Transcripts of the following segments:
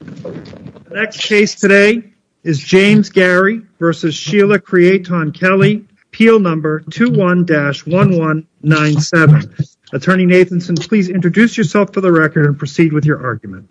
The next case today is James Garrey v. Sheila Creaton-Kelly, appeal number 21-1197. Attorney Nathanson, please introduce yourself for the record and proceed with your argument.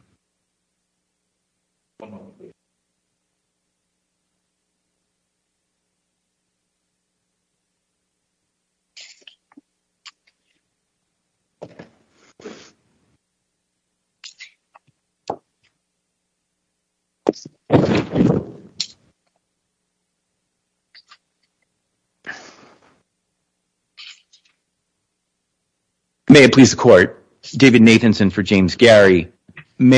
May it please the court, this is David Nathanson for James Garrey. Patsy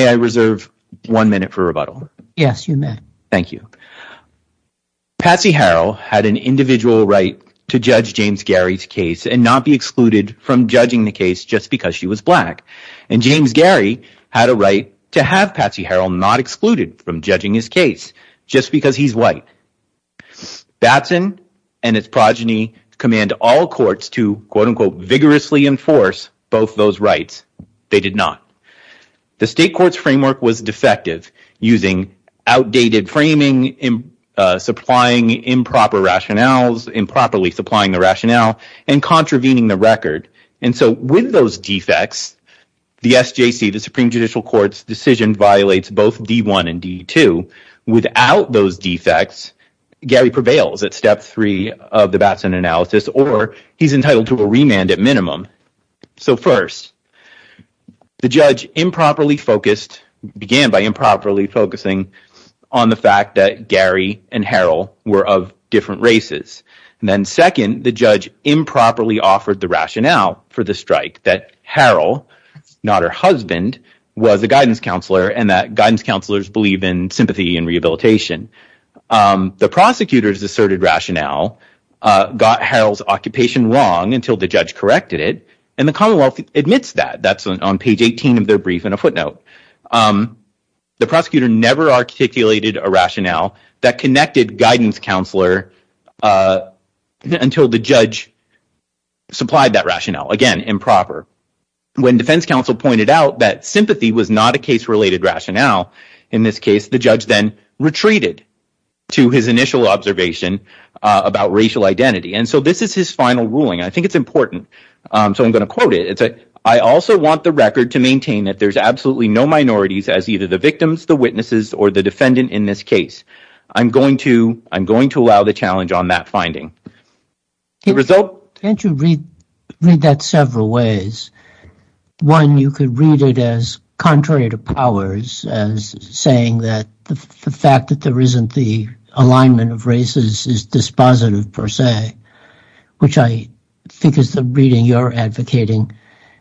Harrell had an individual right to judge James Garrey's case and not be excluded from judging the case just because she was black, and James Garrey had a right to have Patsy Harrell not excluded from judging his case just because he's white. Batson and its progeny command all courts to quote unquote vigorously enforce both those The state court's framework was defective, using outdated framing, supplying improper rationales, improperly supplying the rationale, and contravening the record. And so with those defects, the SJC, the Supreme Judicial Court's decision violates both D-1 and D-2. Without those defects, Garrey prevails at step three of the Batson analysis, or he's entitled to a remand at minimum. So first, the judge improperly focused, began by improperly focusing on the fact that Garrey and Harrell were of different races. Then second, the judge improperly offered the rationale for the strike, that Harrell, not her husband, was a guidance counselor and that guidance counselors believe in sympathy and rehabilitation. The prosecutor's asserted rationale got Harrell's occupation wrong until the judge corrected it, and the Commonwealth admits that. That's on page 18 of their brief and a footnote. The prosecutor never articulated a rationale that connected guidance counselor until the judge supplied that rationale, again, improper. When defense counsel pointed out that sympathy was not a case-related rationale in this case, the judge then retreated to his initial observation about racial identity. And so this is his final ruling. I think it's important, so I'm going to quote it. It's, I also want the record to maintain that there's absolutely no minorities as either the victims, the witnesses, or the defendant in this case. I'm going to, I'm going to allow the challenge on that finding. The result... Can't you read that several ways? One, you could read it as contrary to powers, as saying that the fact that there isn't the is positive per se, which I think is the reading you're advocating,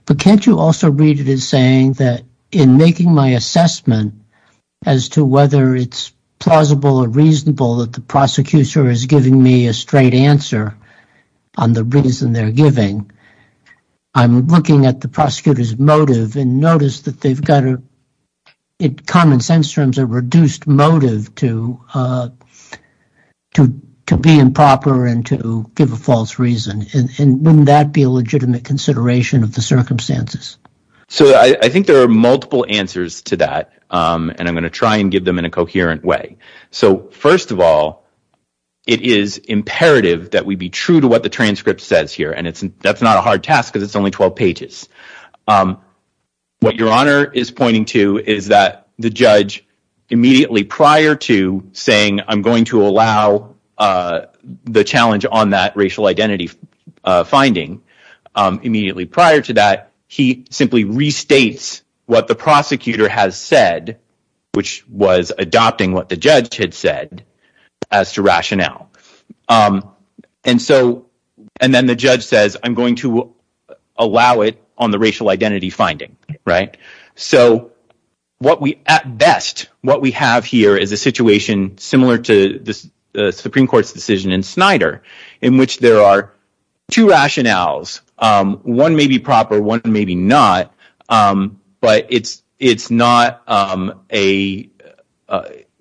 but can't you also read it as saying that in making my assessment as to whether it's plausible or reasonable that the prosecutor is giving me a straight answer on the reason they're giving, I'm looking at the prosecutor's motive and notice that they've got a, in common sense terms, a reduced motive to be improper and to give a false reason. And wouldn't that be a legitimate consideration of the circumstances? So I think there are multiple answers to that. And I'm going to try and give them in a coherent way. So first of all, it is imperative that we be true to what the transcript says here. And it's, that's not a hard task because it's only 12 pages. What your honor is pointing to is that the judge immediately prior to saying, I'm going to allow the challenge on that racial identity finding. Immediately prior to that, he simply restates what the prosecutor has said, which was adopting what the judge had said as to rationale. And so, and then the judge says, I'm going to allow it on the racial identity finding, right? So what we, at best, what we have here is a situation similar to the Supreme Court's decision in Snyder, in which there are two rationales. One may be proper, one may be not, but it's not a,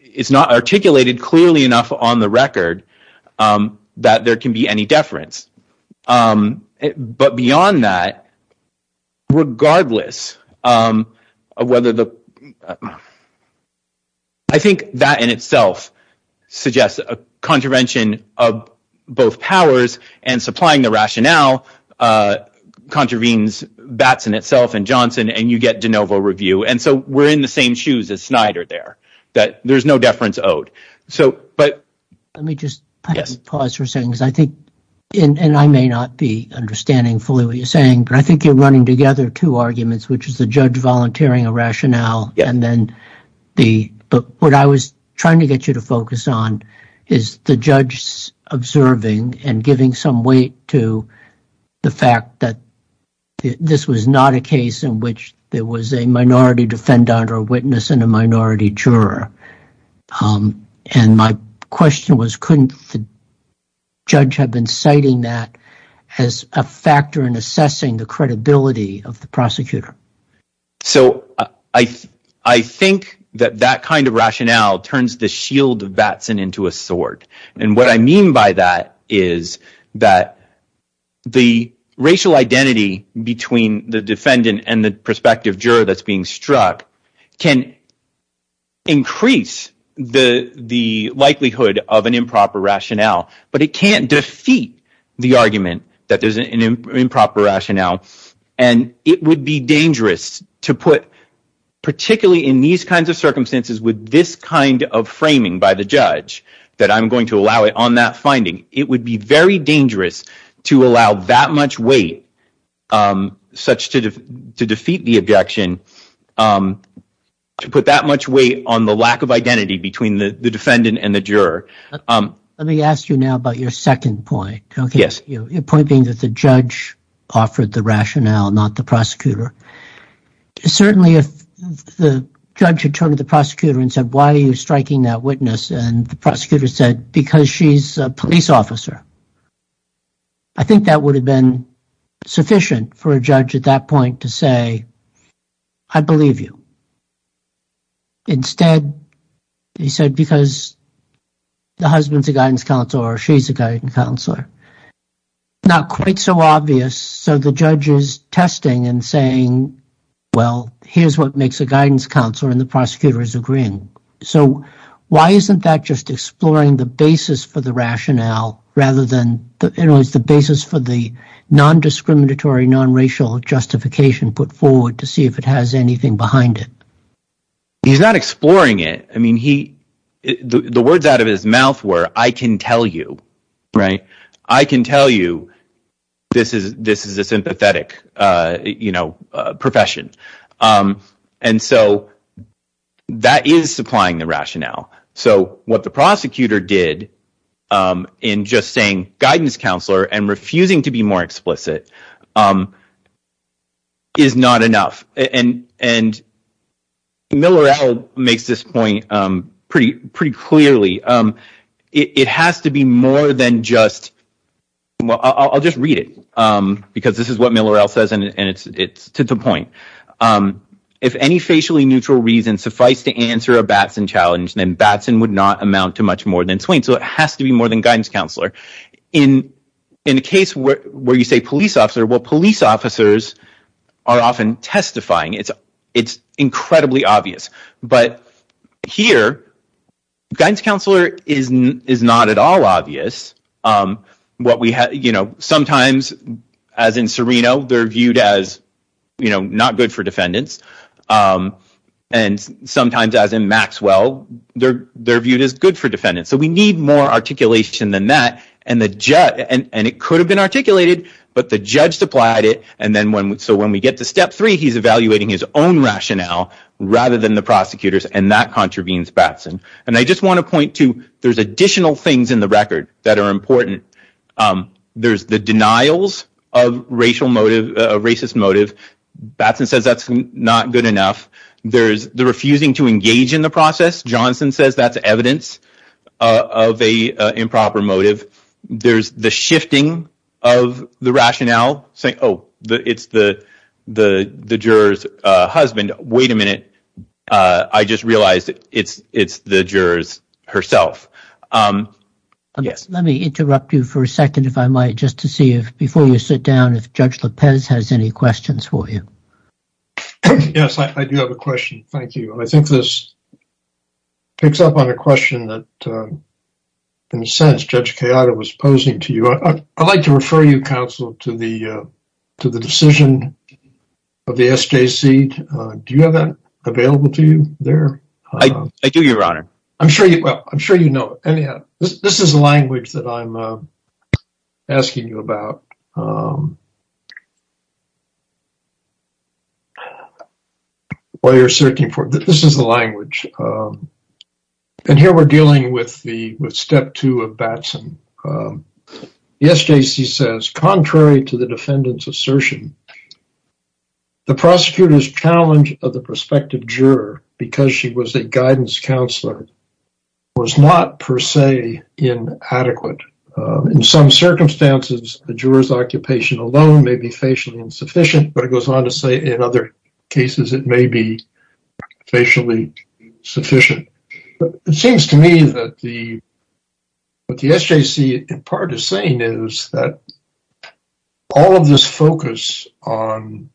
it's not articulated clearly enough on the record that there can be any deference. But beyond that, regardless of whether the, I think that in itself suggests a contravention of both powers and supplying the rationale contravenes Batson itself and Johnson and you get de novo review. And so we're in the same shoes as Snyder there, that there's no deference owed. So, but let me just pause for a second, because I think, and I may not be understanding fully what you're saying, but I think you're running together two arguments, which is the judge volunteering a rationale and then the, but what I was trying to get you to focus on is the judge's observing and giving some weight to the fact that this was not a case in which there was a minority defendant or witness and a minority juror. And my question was, couldn't the judge have been citing that as a factor in assessing the credibility of the prosecutor? So I, I think that that kind of rationale turns the shield of Batson into a sword. And what I mean by that is that the racial identity between the defendant and the prospective juror that's being struck can increase the likelihood of an improper rationale, but it can't defeat the argument that there's an improper rationale. And it would be dangerous to put, particularly in these kinds of circumstances with this kind of framing by the judge, that I'm going to allow it on that finding. It would be very dangerous to allow that much weight, such to, to defeat the objection, to put that much weight on the lack of identity between the defendant and the juror. Let me ask you now about your second point. Okay. Yes. Certainly, if the judge had turned to the prosecutor and said, why are you striking that witness? And the prosecutor said, because she's a police officer. I think that would have been sufficient for a judge at that point to say, I believe you. Instead, he said, because the husband's a guidance counselor or she's a guidance counselor. It's not quite so obvious. So the judge is testing and saying, well, here's what makes a guidance counselor, and the prosecutor is agreeing. So why isn't that just exploring the basis for the rationale rather than, you know, it's the basis for the non-discriminatory, non-racial justification put forward to see if it has anything behind it? He's not exploring it. I mean, he, the words out of his mouth were, I can tell you. I can tell you this is a sympathetic, you know, profession. And so that is supplying the rationale. So what the prosecutor did in just saying guidance counselor and refusing to be more explicit is not enough. And Miller-El makes this point pretty clearly. It has to be more than just, well, I'll just read it because this is what Miller-El says and it's to the point. If any facially neutral reason suffice to answer a Batson challenge, then Batson would not amount to much more than Swain. So it has to be more than guidance counselor. In a case where you say police officer, well, police officers are often testifying. It's incredibly obvious. But here, guidance counselor is not at all obvious. What we have, you know, sometimes, as in Serino, they're viewed as, you know, not good for defendants. And sometimes, as in Maxwell, they're viewed as good for defendants. So we need more articulation than that. And it could have been articulated, but the judge supplied it. And so when we get to step three, he's evaluating his own rationale rather than the prosecutor's. And that contravenes Batson. And I just want to point to there's additional things in the record that are important. There's the denials of racist motive. Batson says that's not good enough. There's the refusing to engage in the process. Johnson says that's evidence of a improper motive. There's the shifting of the rationale saying, oh, it's the the juror's husband. Wait a minute. I just realized it's it's the jurors herself. Let me interrupt you for a second, if I might, just to see if before you sit down, if Judge Lopez has any questions for you. Yes, I do have a question. Thank you. I think this picks up on a question that, in a sense, Judge Kayada was posing to you. I'd like to refer you, counsel, to the to the decision of the SJC. Do you have that available to you there? I do, Your Honor. I'm sure you I'm sure you know. Anyhow, this is the language that I'm asking you about. While you're searching for it, this is the language. And here we're dealing with the with step two of Batson. The SJC says, contrary to the defendant's assertion, the prosecutor's challenge of the prospective juror, because she was a guidance counselor, was not, per se, inadequate. In some circumstances, the juror's occupation alone may be facially insufficient. But it goes on to say, in other cases, it may be facially sufficient. It seems to me that the, what the SJC, in part, is saying is that all of this focus on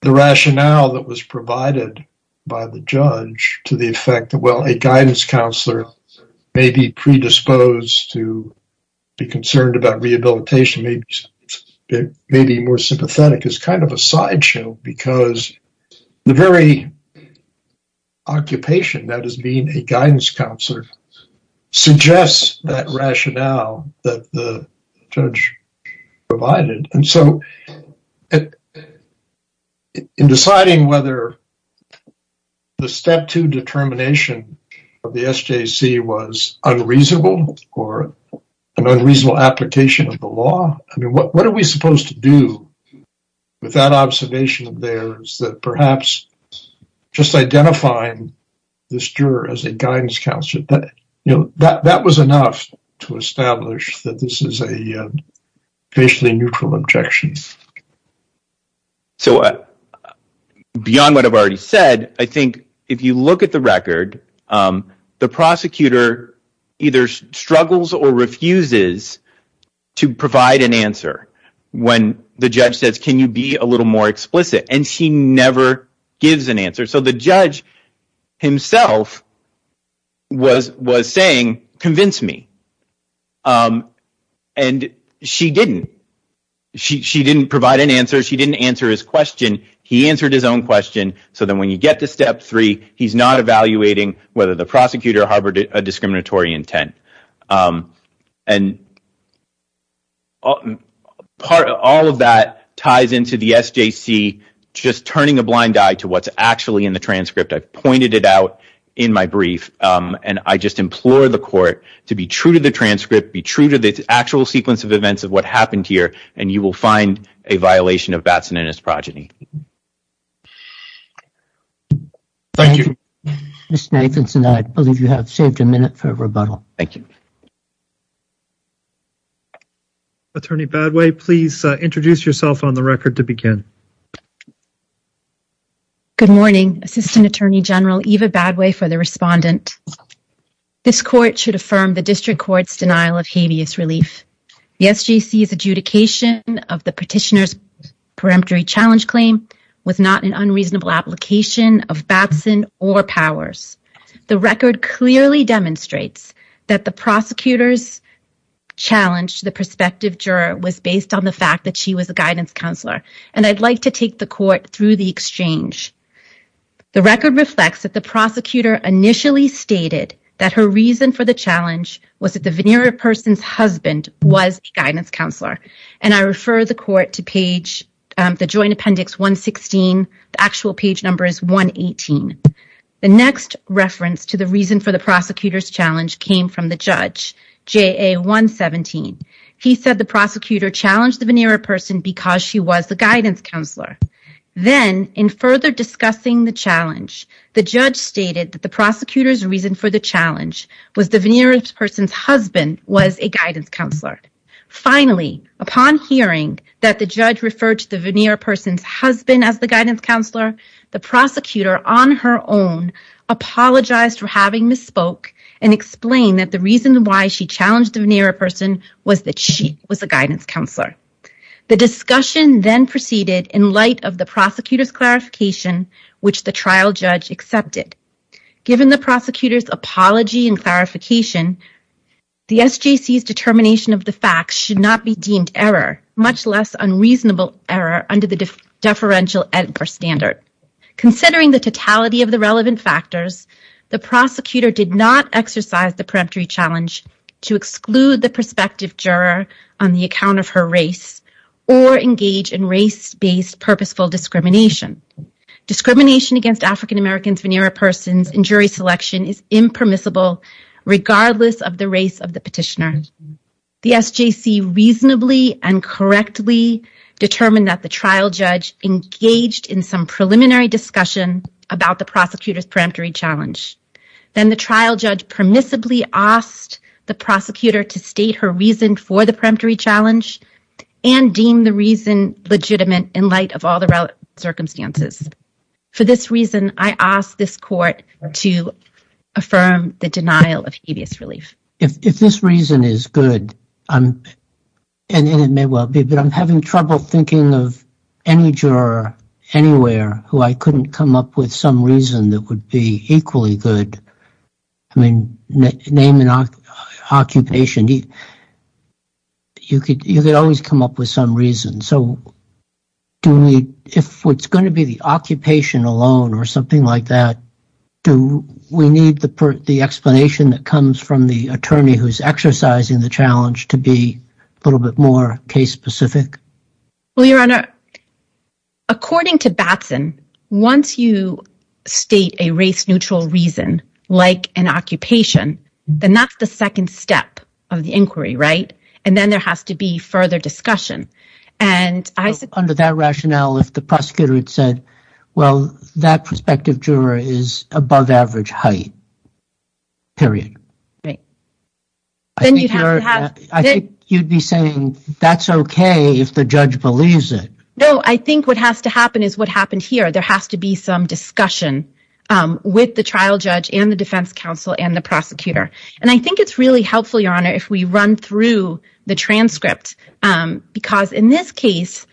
the rationale that was provided by the judge to the effect that, well, a guidance counselor may be predisposed to be concerned about rehabilitation, may be more sympathetic, is kind of a sideshow because the very occupation that is being a guidance counselor suggests that rationale that the judge provided. And so, in deciding whether the step two determination of the SJC was unreasonable or an unreasonable application of the law, I mean, what are we supposed to do with that observation of theirs that perhaps just identifying this juror as a guidance counselor, you know, that was enough to establish that this is a facially neutral objection. So, beyond what I've already said, I think if you look at the record, the prosecutor either struggles or refuses to provide an answer when the judge says, can you be a little more explicit? And she never gives an answer. So, the judge himself was saying, convince me. And she didn't. She didn't provide an answer. She didn't answer his question. He answered his own question. So, then when you get to step three, he's not evaluating whether the prosecutor harbored a discriminatory intent. And all of that ties into the SJC just turning a blind eye to what's actually in the transcript. I've pointed it out in my brief, and I just implore the court to be true to the transcript, be true to the actual sequence of events of what happened here, and you will find a violation of Batson and his progeny. Thank you, Mr. Nathanson. I believe you have saved a minute for rebuttal. Thank you. Attorney Badway, please introduce yourself on the record to begin. Good morning. Assistant Attorney General Eva Badway for the respondent. This court should affirm the district court's denial of habeas relief. The SJC's adjudication of the petitioner's peremptory challenge claim was not an unreasonable application of Batson or Powers. The record clearly demonstrates that the prosecutor's challenge to the prospective juror was based on the fact that she was a guidance counselor, and I'd like to take the court through the exchange. The record reflects that the prosecutor initially stated that her reason for the challenge was that the veneer of person's husband was a guidance counselor, and I refer the court to page, the joint appendix 116. The actual page number is 118. The next reference to the reason for the prosecutor's challenge came from the judge, JA 117. He said the prosecutor challenged the veneer of person because she was a guidance counselor. Then, in further discussing the challenge, the judge stated that the prosecutor's reason for the challenge was the veneer of person's husband was a guidance counselor. Finally, upon hearing that the judge referred to the veneer of person's husband as the guidance counselor, the prosecutor on her own apologized for having misspoke and explained that the reason why she challenged the veneer of person was that she was a guidance counselor. The discussion then proceeded in light of the prosecutor's clarification, which the trial judge accepted. Given the prosecutor's apology and clarification, the SJC's determination of the facts should not be deemed error, much less unreasonable error under the deferential editor standard. Considering the totality of the relevant factors, the prosecutor did not exercise the preemptory challenge to exclude the prospective juror on the account of her race or engage in race-based purposeful discrimination. Discrimination against African-Americans veneer of persons in jury selection is impermissible regardless of the race of the petitioner. The SJC reasonably and correctly determined that the trial judge engaged in some preliminary discussion about the prosecutor's preemptory challenge. Then the trial judge permissibly asked the prosecutor to state her reason for the preemptory challenge and deem the reason legitimate in light of all the relevant circumstances. For this reason, I ask this court to affirm the denial of habeas relief. If this reason is good, and it may well be, but I'm having trouble thinking of any juror anywhere who I couldn't come up with some reason that would be equally good. I mean, name an occupation. You could always come up with some reason. So, if it's going to be the occupation alone or something like that, do we need the explanation that comes from the attorney who's exercising the challenge to be a little bit more case-specific? Well, Your Honor, according to Batson, once you state a race-neutral reason like an occupation, then that's the second step of the inquiry, right? And then there has to be further discussion. Under that rationale, if the prosecutor had said, well, that prospective juror is above average height, period. I think you'd be saying that's okay if the judge believes it. No, I think what has to happen is what happened here. There has to be some discussion with the trial judge and the defense counsel and the prosecutor. And I think it's really helpful, Your Honor, if we run through the transcript. Because in this case,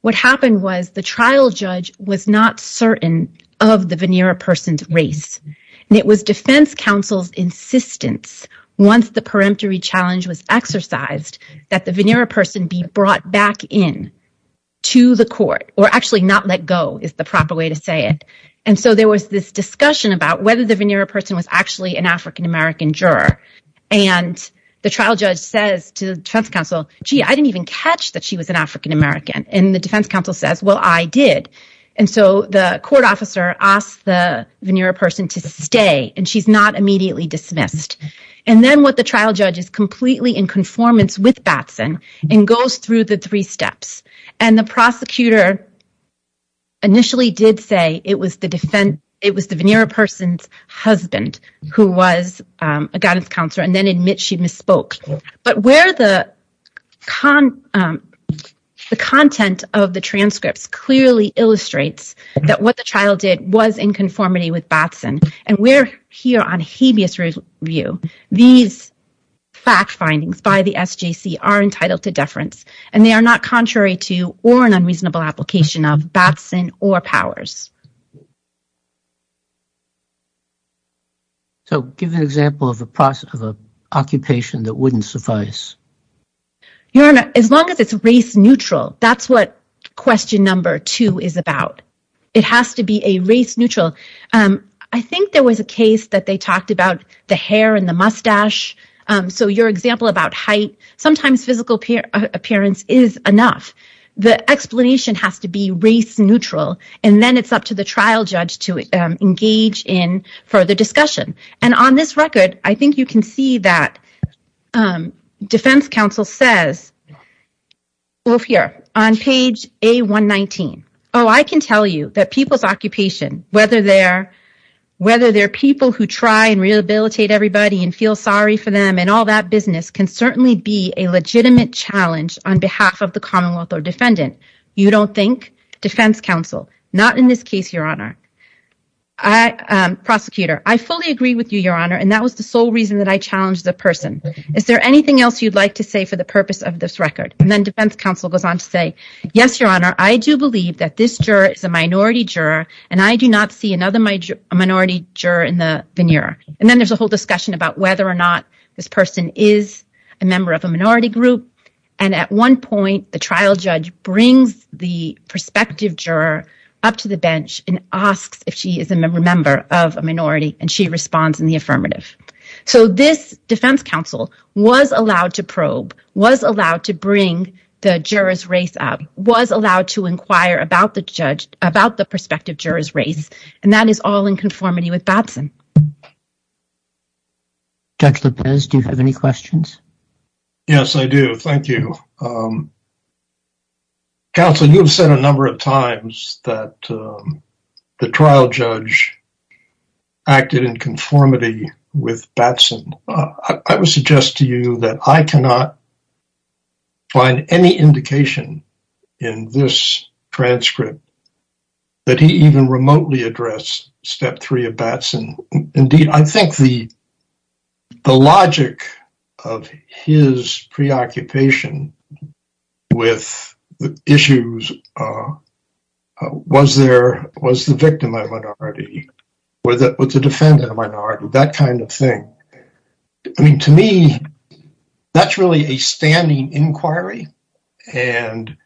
what happened was the trial judge was not certain of the veneer a person's race. And it was defense counsel's insistence, once the peremptory challenge was exercised, that the veneer a person be brought back in to the court, or actually not let go is the proper way to say it. And so there was this discussion about whether the veneer a person was actually an African-American juror. And the trial judge says to the defense counsel, gee, I didn't even catch that she was an African-American. And the defense counsel says, well, I did. And so the court officer asked the veneer a person to stay, and she's not immediately dismissed. And then what the trial judge is completely in conformance with Batson and goes through the three steps. And the prosecutor initially did say it was the veneer a person's husband who was a guidance counselor and then admit she misspoke. But where the content of the transcripts clearly illustrates that what the trial did was in conformity with Batson. And we're here on habeas review. These fact findings by the SJC are entitled to deference, and they are not contrary to or an unreasonable application of Batson or powers. So give an example of a process of an occupation that wouldn't suffice. As long as it's race neutral, that's what question number two is about. It has to be a race neutral. I think there was a case that they talked about the hair and the mustache. So your example about height, sometimes physical appearance is enough. The explanation has to be race neutral. And then it's up to the trial judge to engage in further discussion. And on this record, I think you can see that defense counsel says, well, here on page A119. Oh, I can tell you that people's occupation, whether they're people who try and rehabilitate everybody and feel sorry for them and all that business can certainly be a legitimate challenge on behalf of the commonwealth or defendant. You don't think defense counsel, not in this case, your honor. Prosecutor, I fully agree with you, your honor. And that was the sole reason that I challenged the person. Is there anything else you'd like to say for the purpose of this record? And then defense counsel goes on to say, yes, your honor. I do believe that this juror is a minority juror and I do not see another minority juror in the veneer. And then there's a whole discussion about whether or not this person is a member of a minority group. And at one point, the trial judge brings the prospective juror up to bench and asks if she is a member of a minority and she responds in the affirmative. So this defense counsel was allowed to probe, was allowed to bring the juror's race up, was allowed to inquire about the prospective juror's race. And that is all in conformity with Batson. Judge Lopez, do you have any questions? Yes, I do. Thank you. Counsel, you've said a number of times that the trial judge acted in conformity with Batson. I would suggest to you that I cannot find any indication in this transcript that he even remotely addressed step three of Batson. Indeed, I think the with the issues, was the victim a minority, was the defendant a minority, that kind of thing. I mean, to me, that's really a standing inquiry. And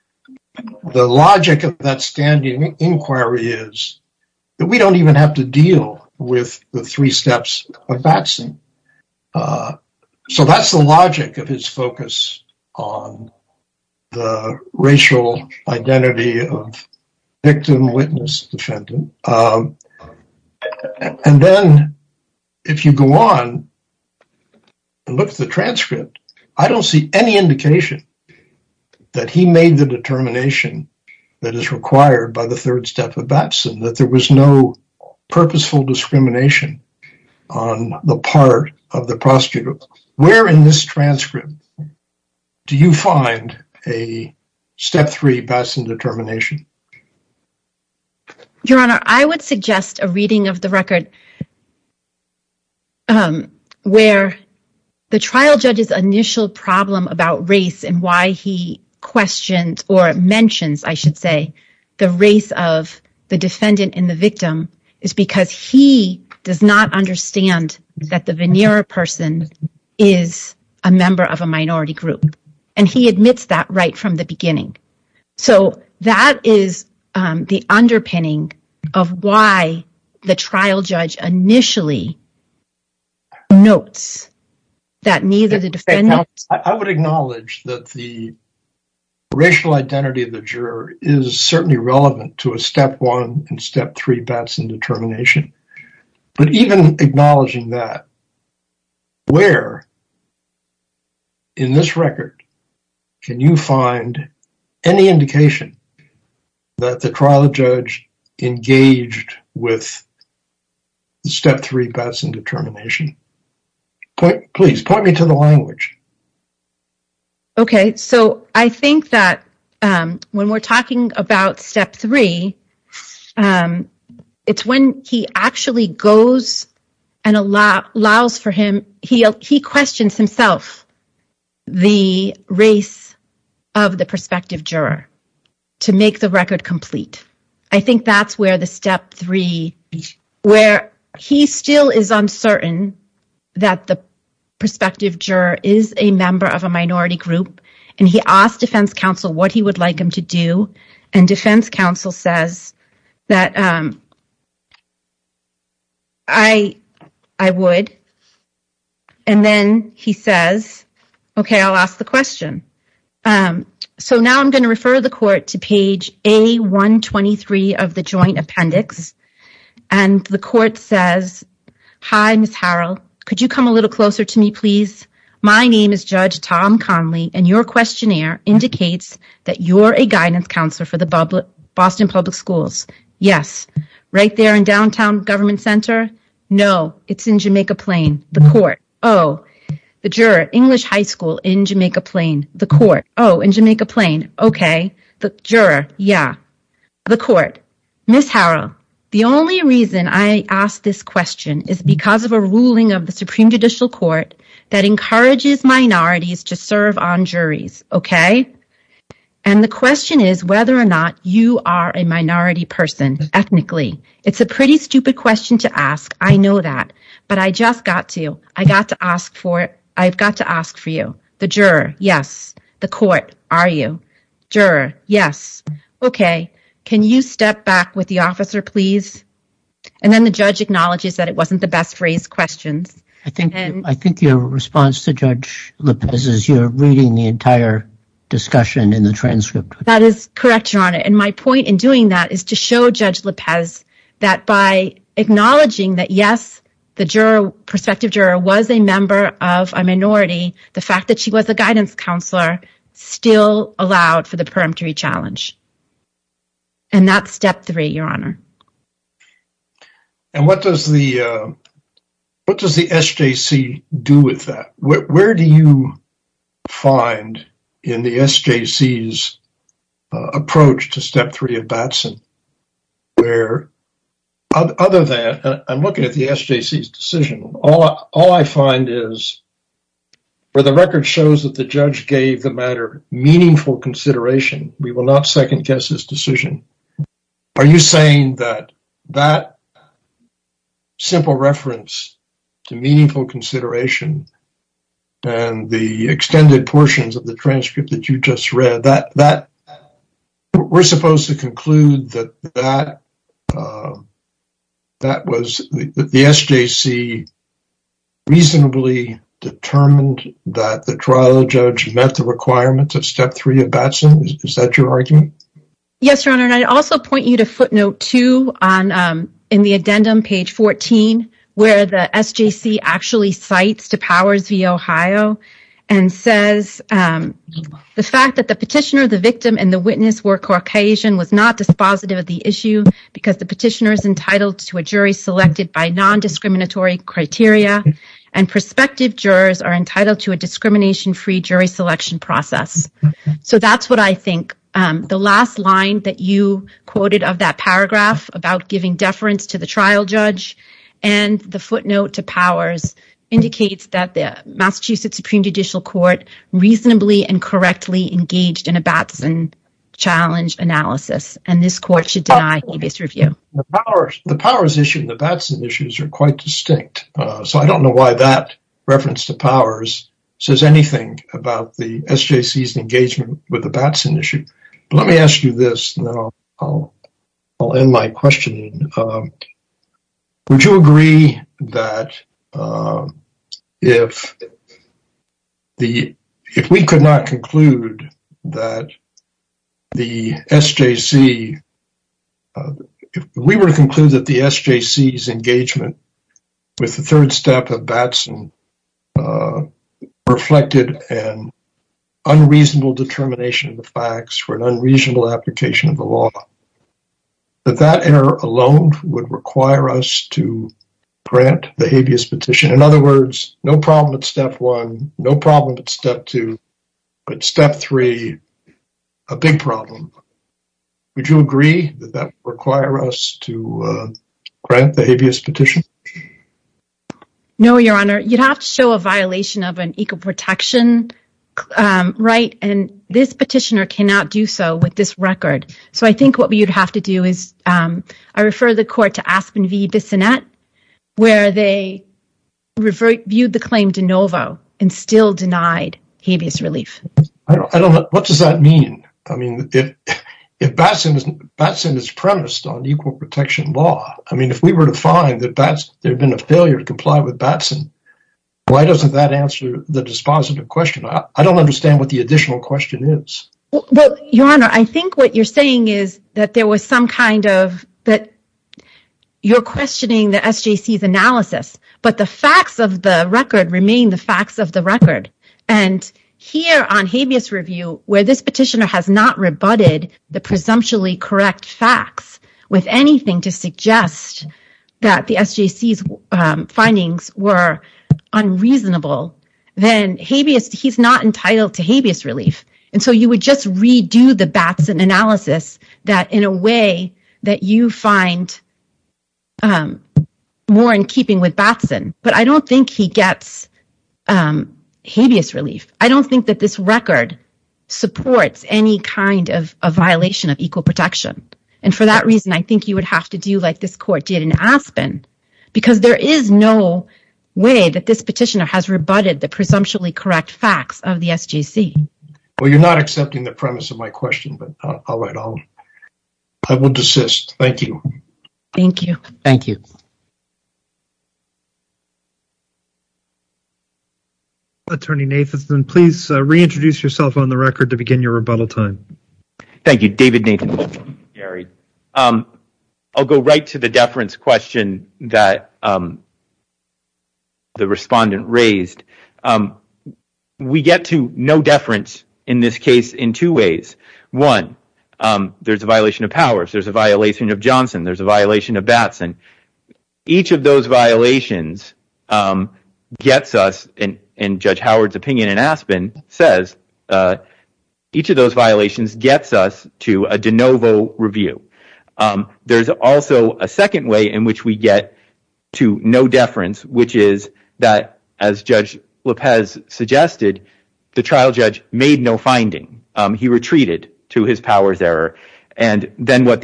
the logic of that standing inquiry is that we don't even have to deal with the three steps of Batson. So that's the logic of his focus on the racial identity of victim, witness, defendant. And then if you go on and look at the transcript, I don't see any indication that he made the determination that is required by the third step of Batson, that there was no purposeful discrimination on the part of the prosecutor. Where in this transcript do you find a step three Batson determination? Your Honor, I would suggest a reading of the record where the trial judge's initial problem about race and why he questions or mentions, I should say, the race of the defendant and the victim is because he does not understand that the veneer person is a member of a minority group. And he admits that right from the beginning. So that is the underpinning of why the trial judge initially notes that neither the defendant- certainly relevant to a step one and step three Batson determination. But even acknowledging that, where in this record can you find any indication that the trial judge engaged with step three Batson determination? Please point me to the language. Okay. So I think that when we're talking about step three, it's when he actually goes and allows for him- he questions himself the race of the prospective juror to make the record complete. I think that's where the step three- where he still is uncertain that the defendant is a member of a minority group. And he asked defense counsel what he would like him to do. And defense counsel says that I would. And then he says, okay, I'll ask the question. So now I'm going to refer the court to page A123 of the joint appendix. And the court says, Hi, Ms. Harrell. Could you come a little closer to me, please? My name is Judge Tom Conley, and your questionnaire indicates that you're a guidance counselor for the Boston Public Schools. Yes. Right there in downtown government center? No. It's in Jamaica Plain. The court. Oh. The juror. English High School in Jamaica Plain. The court. Oh. In Jamaica Plain. Okay. The juror. Yeah. The court. Ms. Harrell, the only reason I asked this question is because of a ruling of the Supreme Judicial Court that encourages minorities to serve on juries. Okay? And the question is whether or not you are a minority person ethnically. It's a pretty stupid question to ask. I know that. But I just got to. I got to ask for it. I've got to ask for you. The juror. Yes. The court. Are you? Juror. Yes. Okay. Can you step back with the officer, please? And then the judge acknowledges that it wasn't the best phrased questions. I think your response to Judge Lopez is you're reading the entire discussion in the transcript. That is correct, Your Honor. And my point in doing that is to show Judge Lopez that by acknowledging that, yes, the juror, prospective juror, was a minority, the fact that she was a guidance counselor still allowed for the peremptory challenge. And that's step three, Your Honor. And what does the, what does the SJC do with that? Where do you find in the SJC's approach to step three of Batson? Where, other than, I'm looking at the SJC's decision. All I find is where the record shows that the judge gave the matter meaningful consideration, we will not second guess his decision. Are you saying that that simple reference to meaningful consideration and the extended portions of the transcript that you just read, that we're supposed to conclude that that was, that the SJC reasonably determined that the trial judge met the requirements of step three of Batson? Is that your argument? Yes, Your Honor. And I'd also point you to footnote two in the addendum, page 14, where the SJC actually cites to Powers v. Ohio and says the fact that the petitioner, the victim, and the witness were Caucasian was not dispositive of the issue because the petitioner is entitled to a jury selected by non-discriminatory criteria and prospective jurors are entitled to a discrimination-free jury selection process. So that's what I think. The last line that you the footnote to Powers indicates that the Massachusetts Supreme Judicial Court reasonably and correctly engaged in a Batson challenge analysis, and this court should deny this review. The Powers issue and the Batson issues are quite distinct, so I don't know why that reference to Powers says anything about the SJC's engagement with the Batson issue. Let me ask you this, and then I'll end my questioning. Would you agree that if we could not conclude that the SJC, if we were to conclude that the SJC's engagement with the third step of Batson reflected an unreasonable determination of the facts for an unreasonable application of the law, that that error alone would require us to grant the habeas petition? In other words, no problem at step one, no problem at step two, but step three, a big problem. Would you agree that that would require us to grant the habeas petition? No, Your Honor. You'd have to show a violation of an equal protection right, and this petitioner cannot do so with this record. So I think what you'd have to do is, I refer the court to Aspen v. Bissonnette, where they viewed the claim de novo and still denied habeas relief. I don't know. What does that mean? I mean, if Batson is premised on equal protection law, I mean, if we were to find that there'd been a failure to comply with Batson, why doesn't that answer the dispositive question? I don't understand what the additional question is. Well, Your Honor, I think what you're saying is that there was some kind of, that you're questioning the SJC's analysis, but the facts of the record remain the facts of the record. And here on habeas review, where this petitioner has not rebutted the presumptually correct facts with anything to suggest that the SJC's findings were unreasonable, then habeas, he's not entitled to habeas relief. And so you would just redo the Batson analysis that in a way that you find more in keeping with Batson. But I don't think he gets habeas relief. I don't think that this record supports any kind of a violation of equal protection. And for that reason, I think you would have to do like this court did in Aspen, because there is no way that this petitioner has rebutted the presumptually correct facts of the SJC. Well, you're not accepting the premise of my question, but all right, I will desist. Thank you. Thank you. Thank you. Attorney Nathanson, please reintroduce yourself on the record to begin your rebuttal time. Thank you, David Nathanson. I'll go right to the deference question that the respondent raised. We get to no deference in this case in two ways. One, there's a violation of powers. There's a violation of Johnson. There's a violation of Batson. Each of those violations gets us, and Judge Howard's opinion in Aspen says, each of those violations gets us to a de novo review. There's also a second way in which we get to no deference, which is that, as Judge Lopez suggested, the trial judge made no finding. He retreated to his powers error. And then what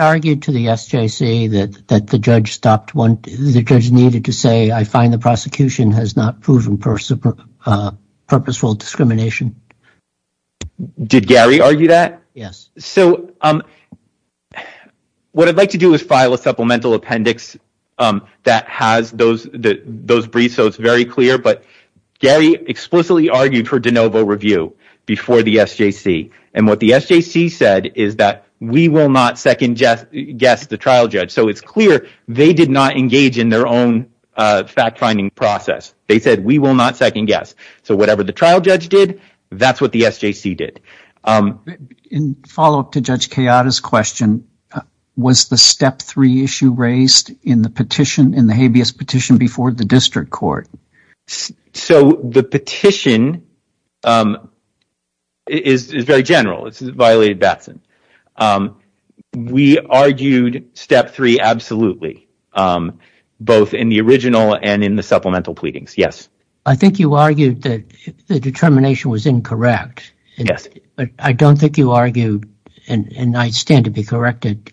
argued to the SJC that the judge needed to say, I find the prosecution has not proven purposeful discrimination? Did Gary argue that? Yes. So what I'd like to do is file a supplemental appendix that has those briefs so it's very clear, but Gary explicitly argued for de novo review before the SJC. And what the SJC said is that we will not second guess the trial judge. So it's clear they did not engage in their own fact-finding process. They said we will not second guess. So whatever the trial judge did, that's what the SJC did. In follow-up to Judge Kayada's question, was the step three issue raised in the petition, in the habeas petition before the district court? So the petition is very general. It violated Batson. We argued step three absolutely, both in the original and in the supplemental pleadings. Yes. I think you argued that the determination was incorrect. Yes. But I don't think you argued, and I stand to be corrected,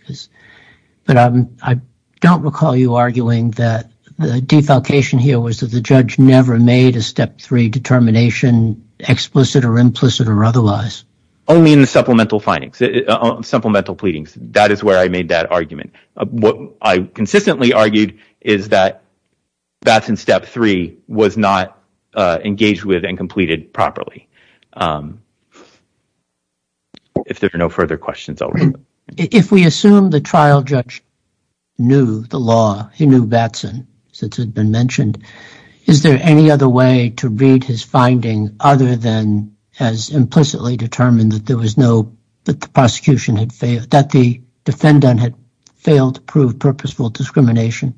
but I don't recall you arguing that the defalcation here was that the judge never made a step three determination explicit or implicit or otherwise. Only in the supplemental findings, supplemental pleadings. That is where I made that argument. What I consistently argued is that Batson's step three was not engaged with and completed properly. If there are no further questions, I'll wrap up. If we assume the trial judge knew the law, he knew Batson, since it had been mentioned, is there any other way to read his finding other than as implicitly determined that there was no, that the prosecution had failed, that the defendant had failed to prove purposeful discrimination?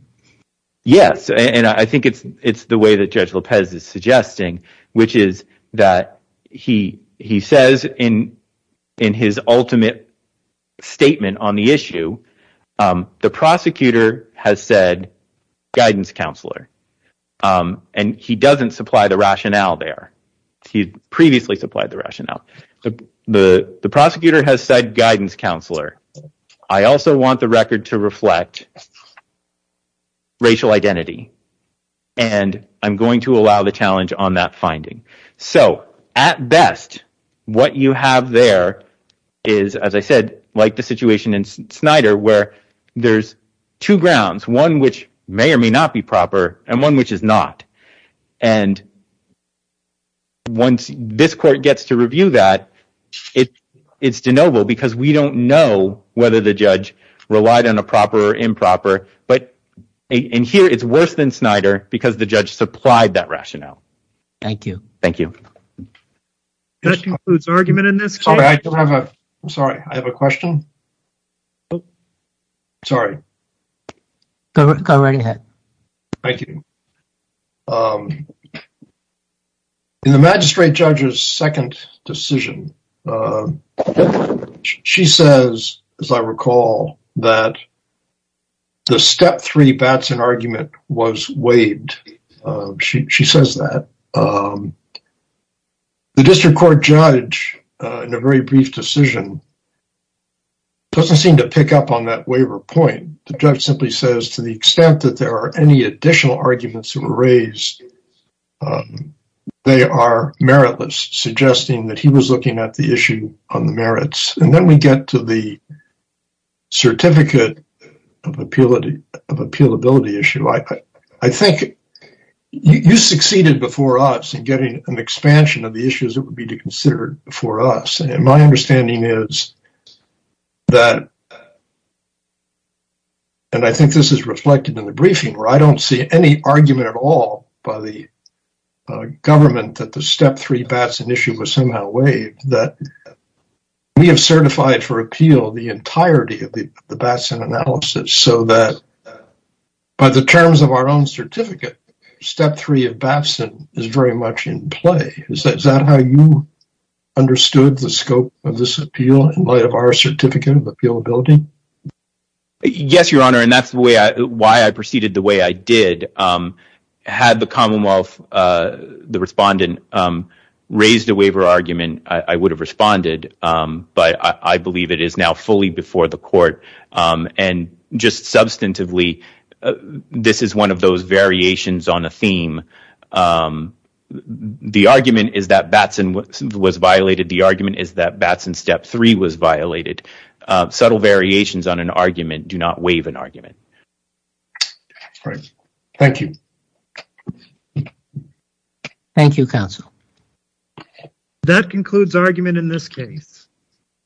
Yes. And I think it's the way Judge Lopez is suggesting, which is that he says in his ultimate statement on the issue, the prosecutor has said guidance counselor, and he doesn't supply the rationale there. He previously supplied the rationale. The prosecutor has said guidance counselor. I also want the record to reflect racial identity, and I'm going to allow the challenge on that finding. So, at best, what you have there is, as I said, like the situation in Snyder, where there's two grounds, one which may or may not be proper, and one which is not. And once this court gets to review that, it's de novo, because we don't know whether the judge relied on a proper or improper, but in here, it's worse than Snyder, because the judge supplied that rationale. Thank you. Thank you. That concludes argument in this case. Sorry, I don't know. In the magistrate judge's second decision, she says, as I recall, that the step three Batson argument was waived. She says that. The district court judge, in a very brief decision, doesn't seem to pick up on that waiver point. The judge simply says, to the extent that there are any additional arguments that were raised, they are meritless, suggesting that he was looking at the issue on the merits. And then we get to the certificate of appealability issue. I think you succeeded before us in getting an expansion of the issues that would be considered before us. And my understanding is that, and I think this is reflected in the briefing, where I don't see any argument at all by the government that the step three Batson issue was somehow waived, that we have certified for appeal the entirety of the Batson analysis, so that by the terms of our own certificate, step three of Batson is very much in play. Is that how you understood the scope of this building? Yes, your honor. And that's why I proceeded the way I did. Had the Commonwealth, the respondent, raised a waiver argument, I would have responded. But I believe it is now fully before the court. And just substantively, this is one of those variations on a theme. The argument is that Batson was violated. The argument is that Batson step three was violated. Subtle variations on an argument do not waive an argument. Thank you. Thank you, counsel. That concludes argument in this case.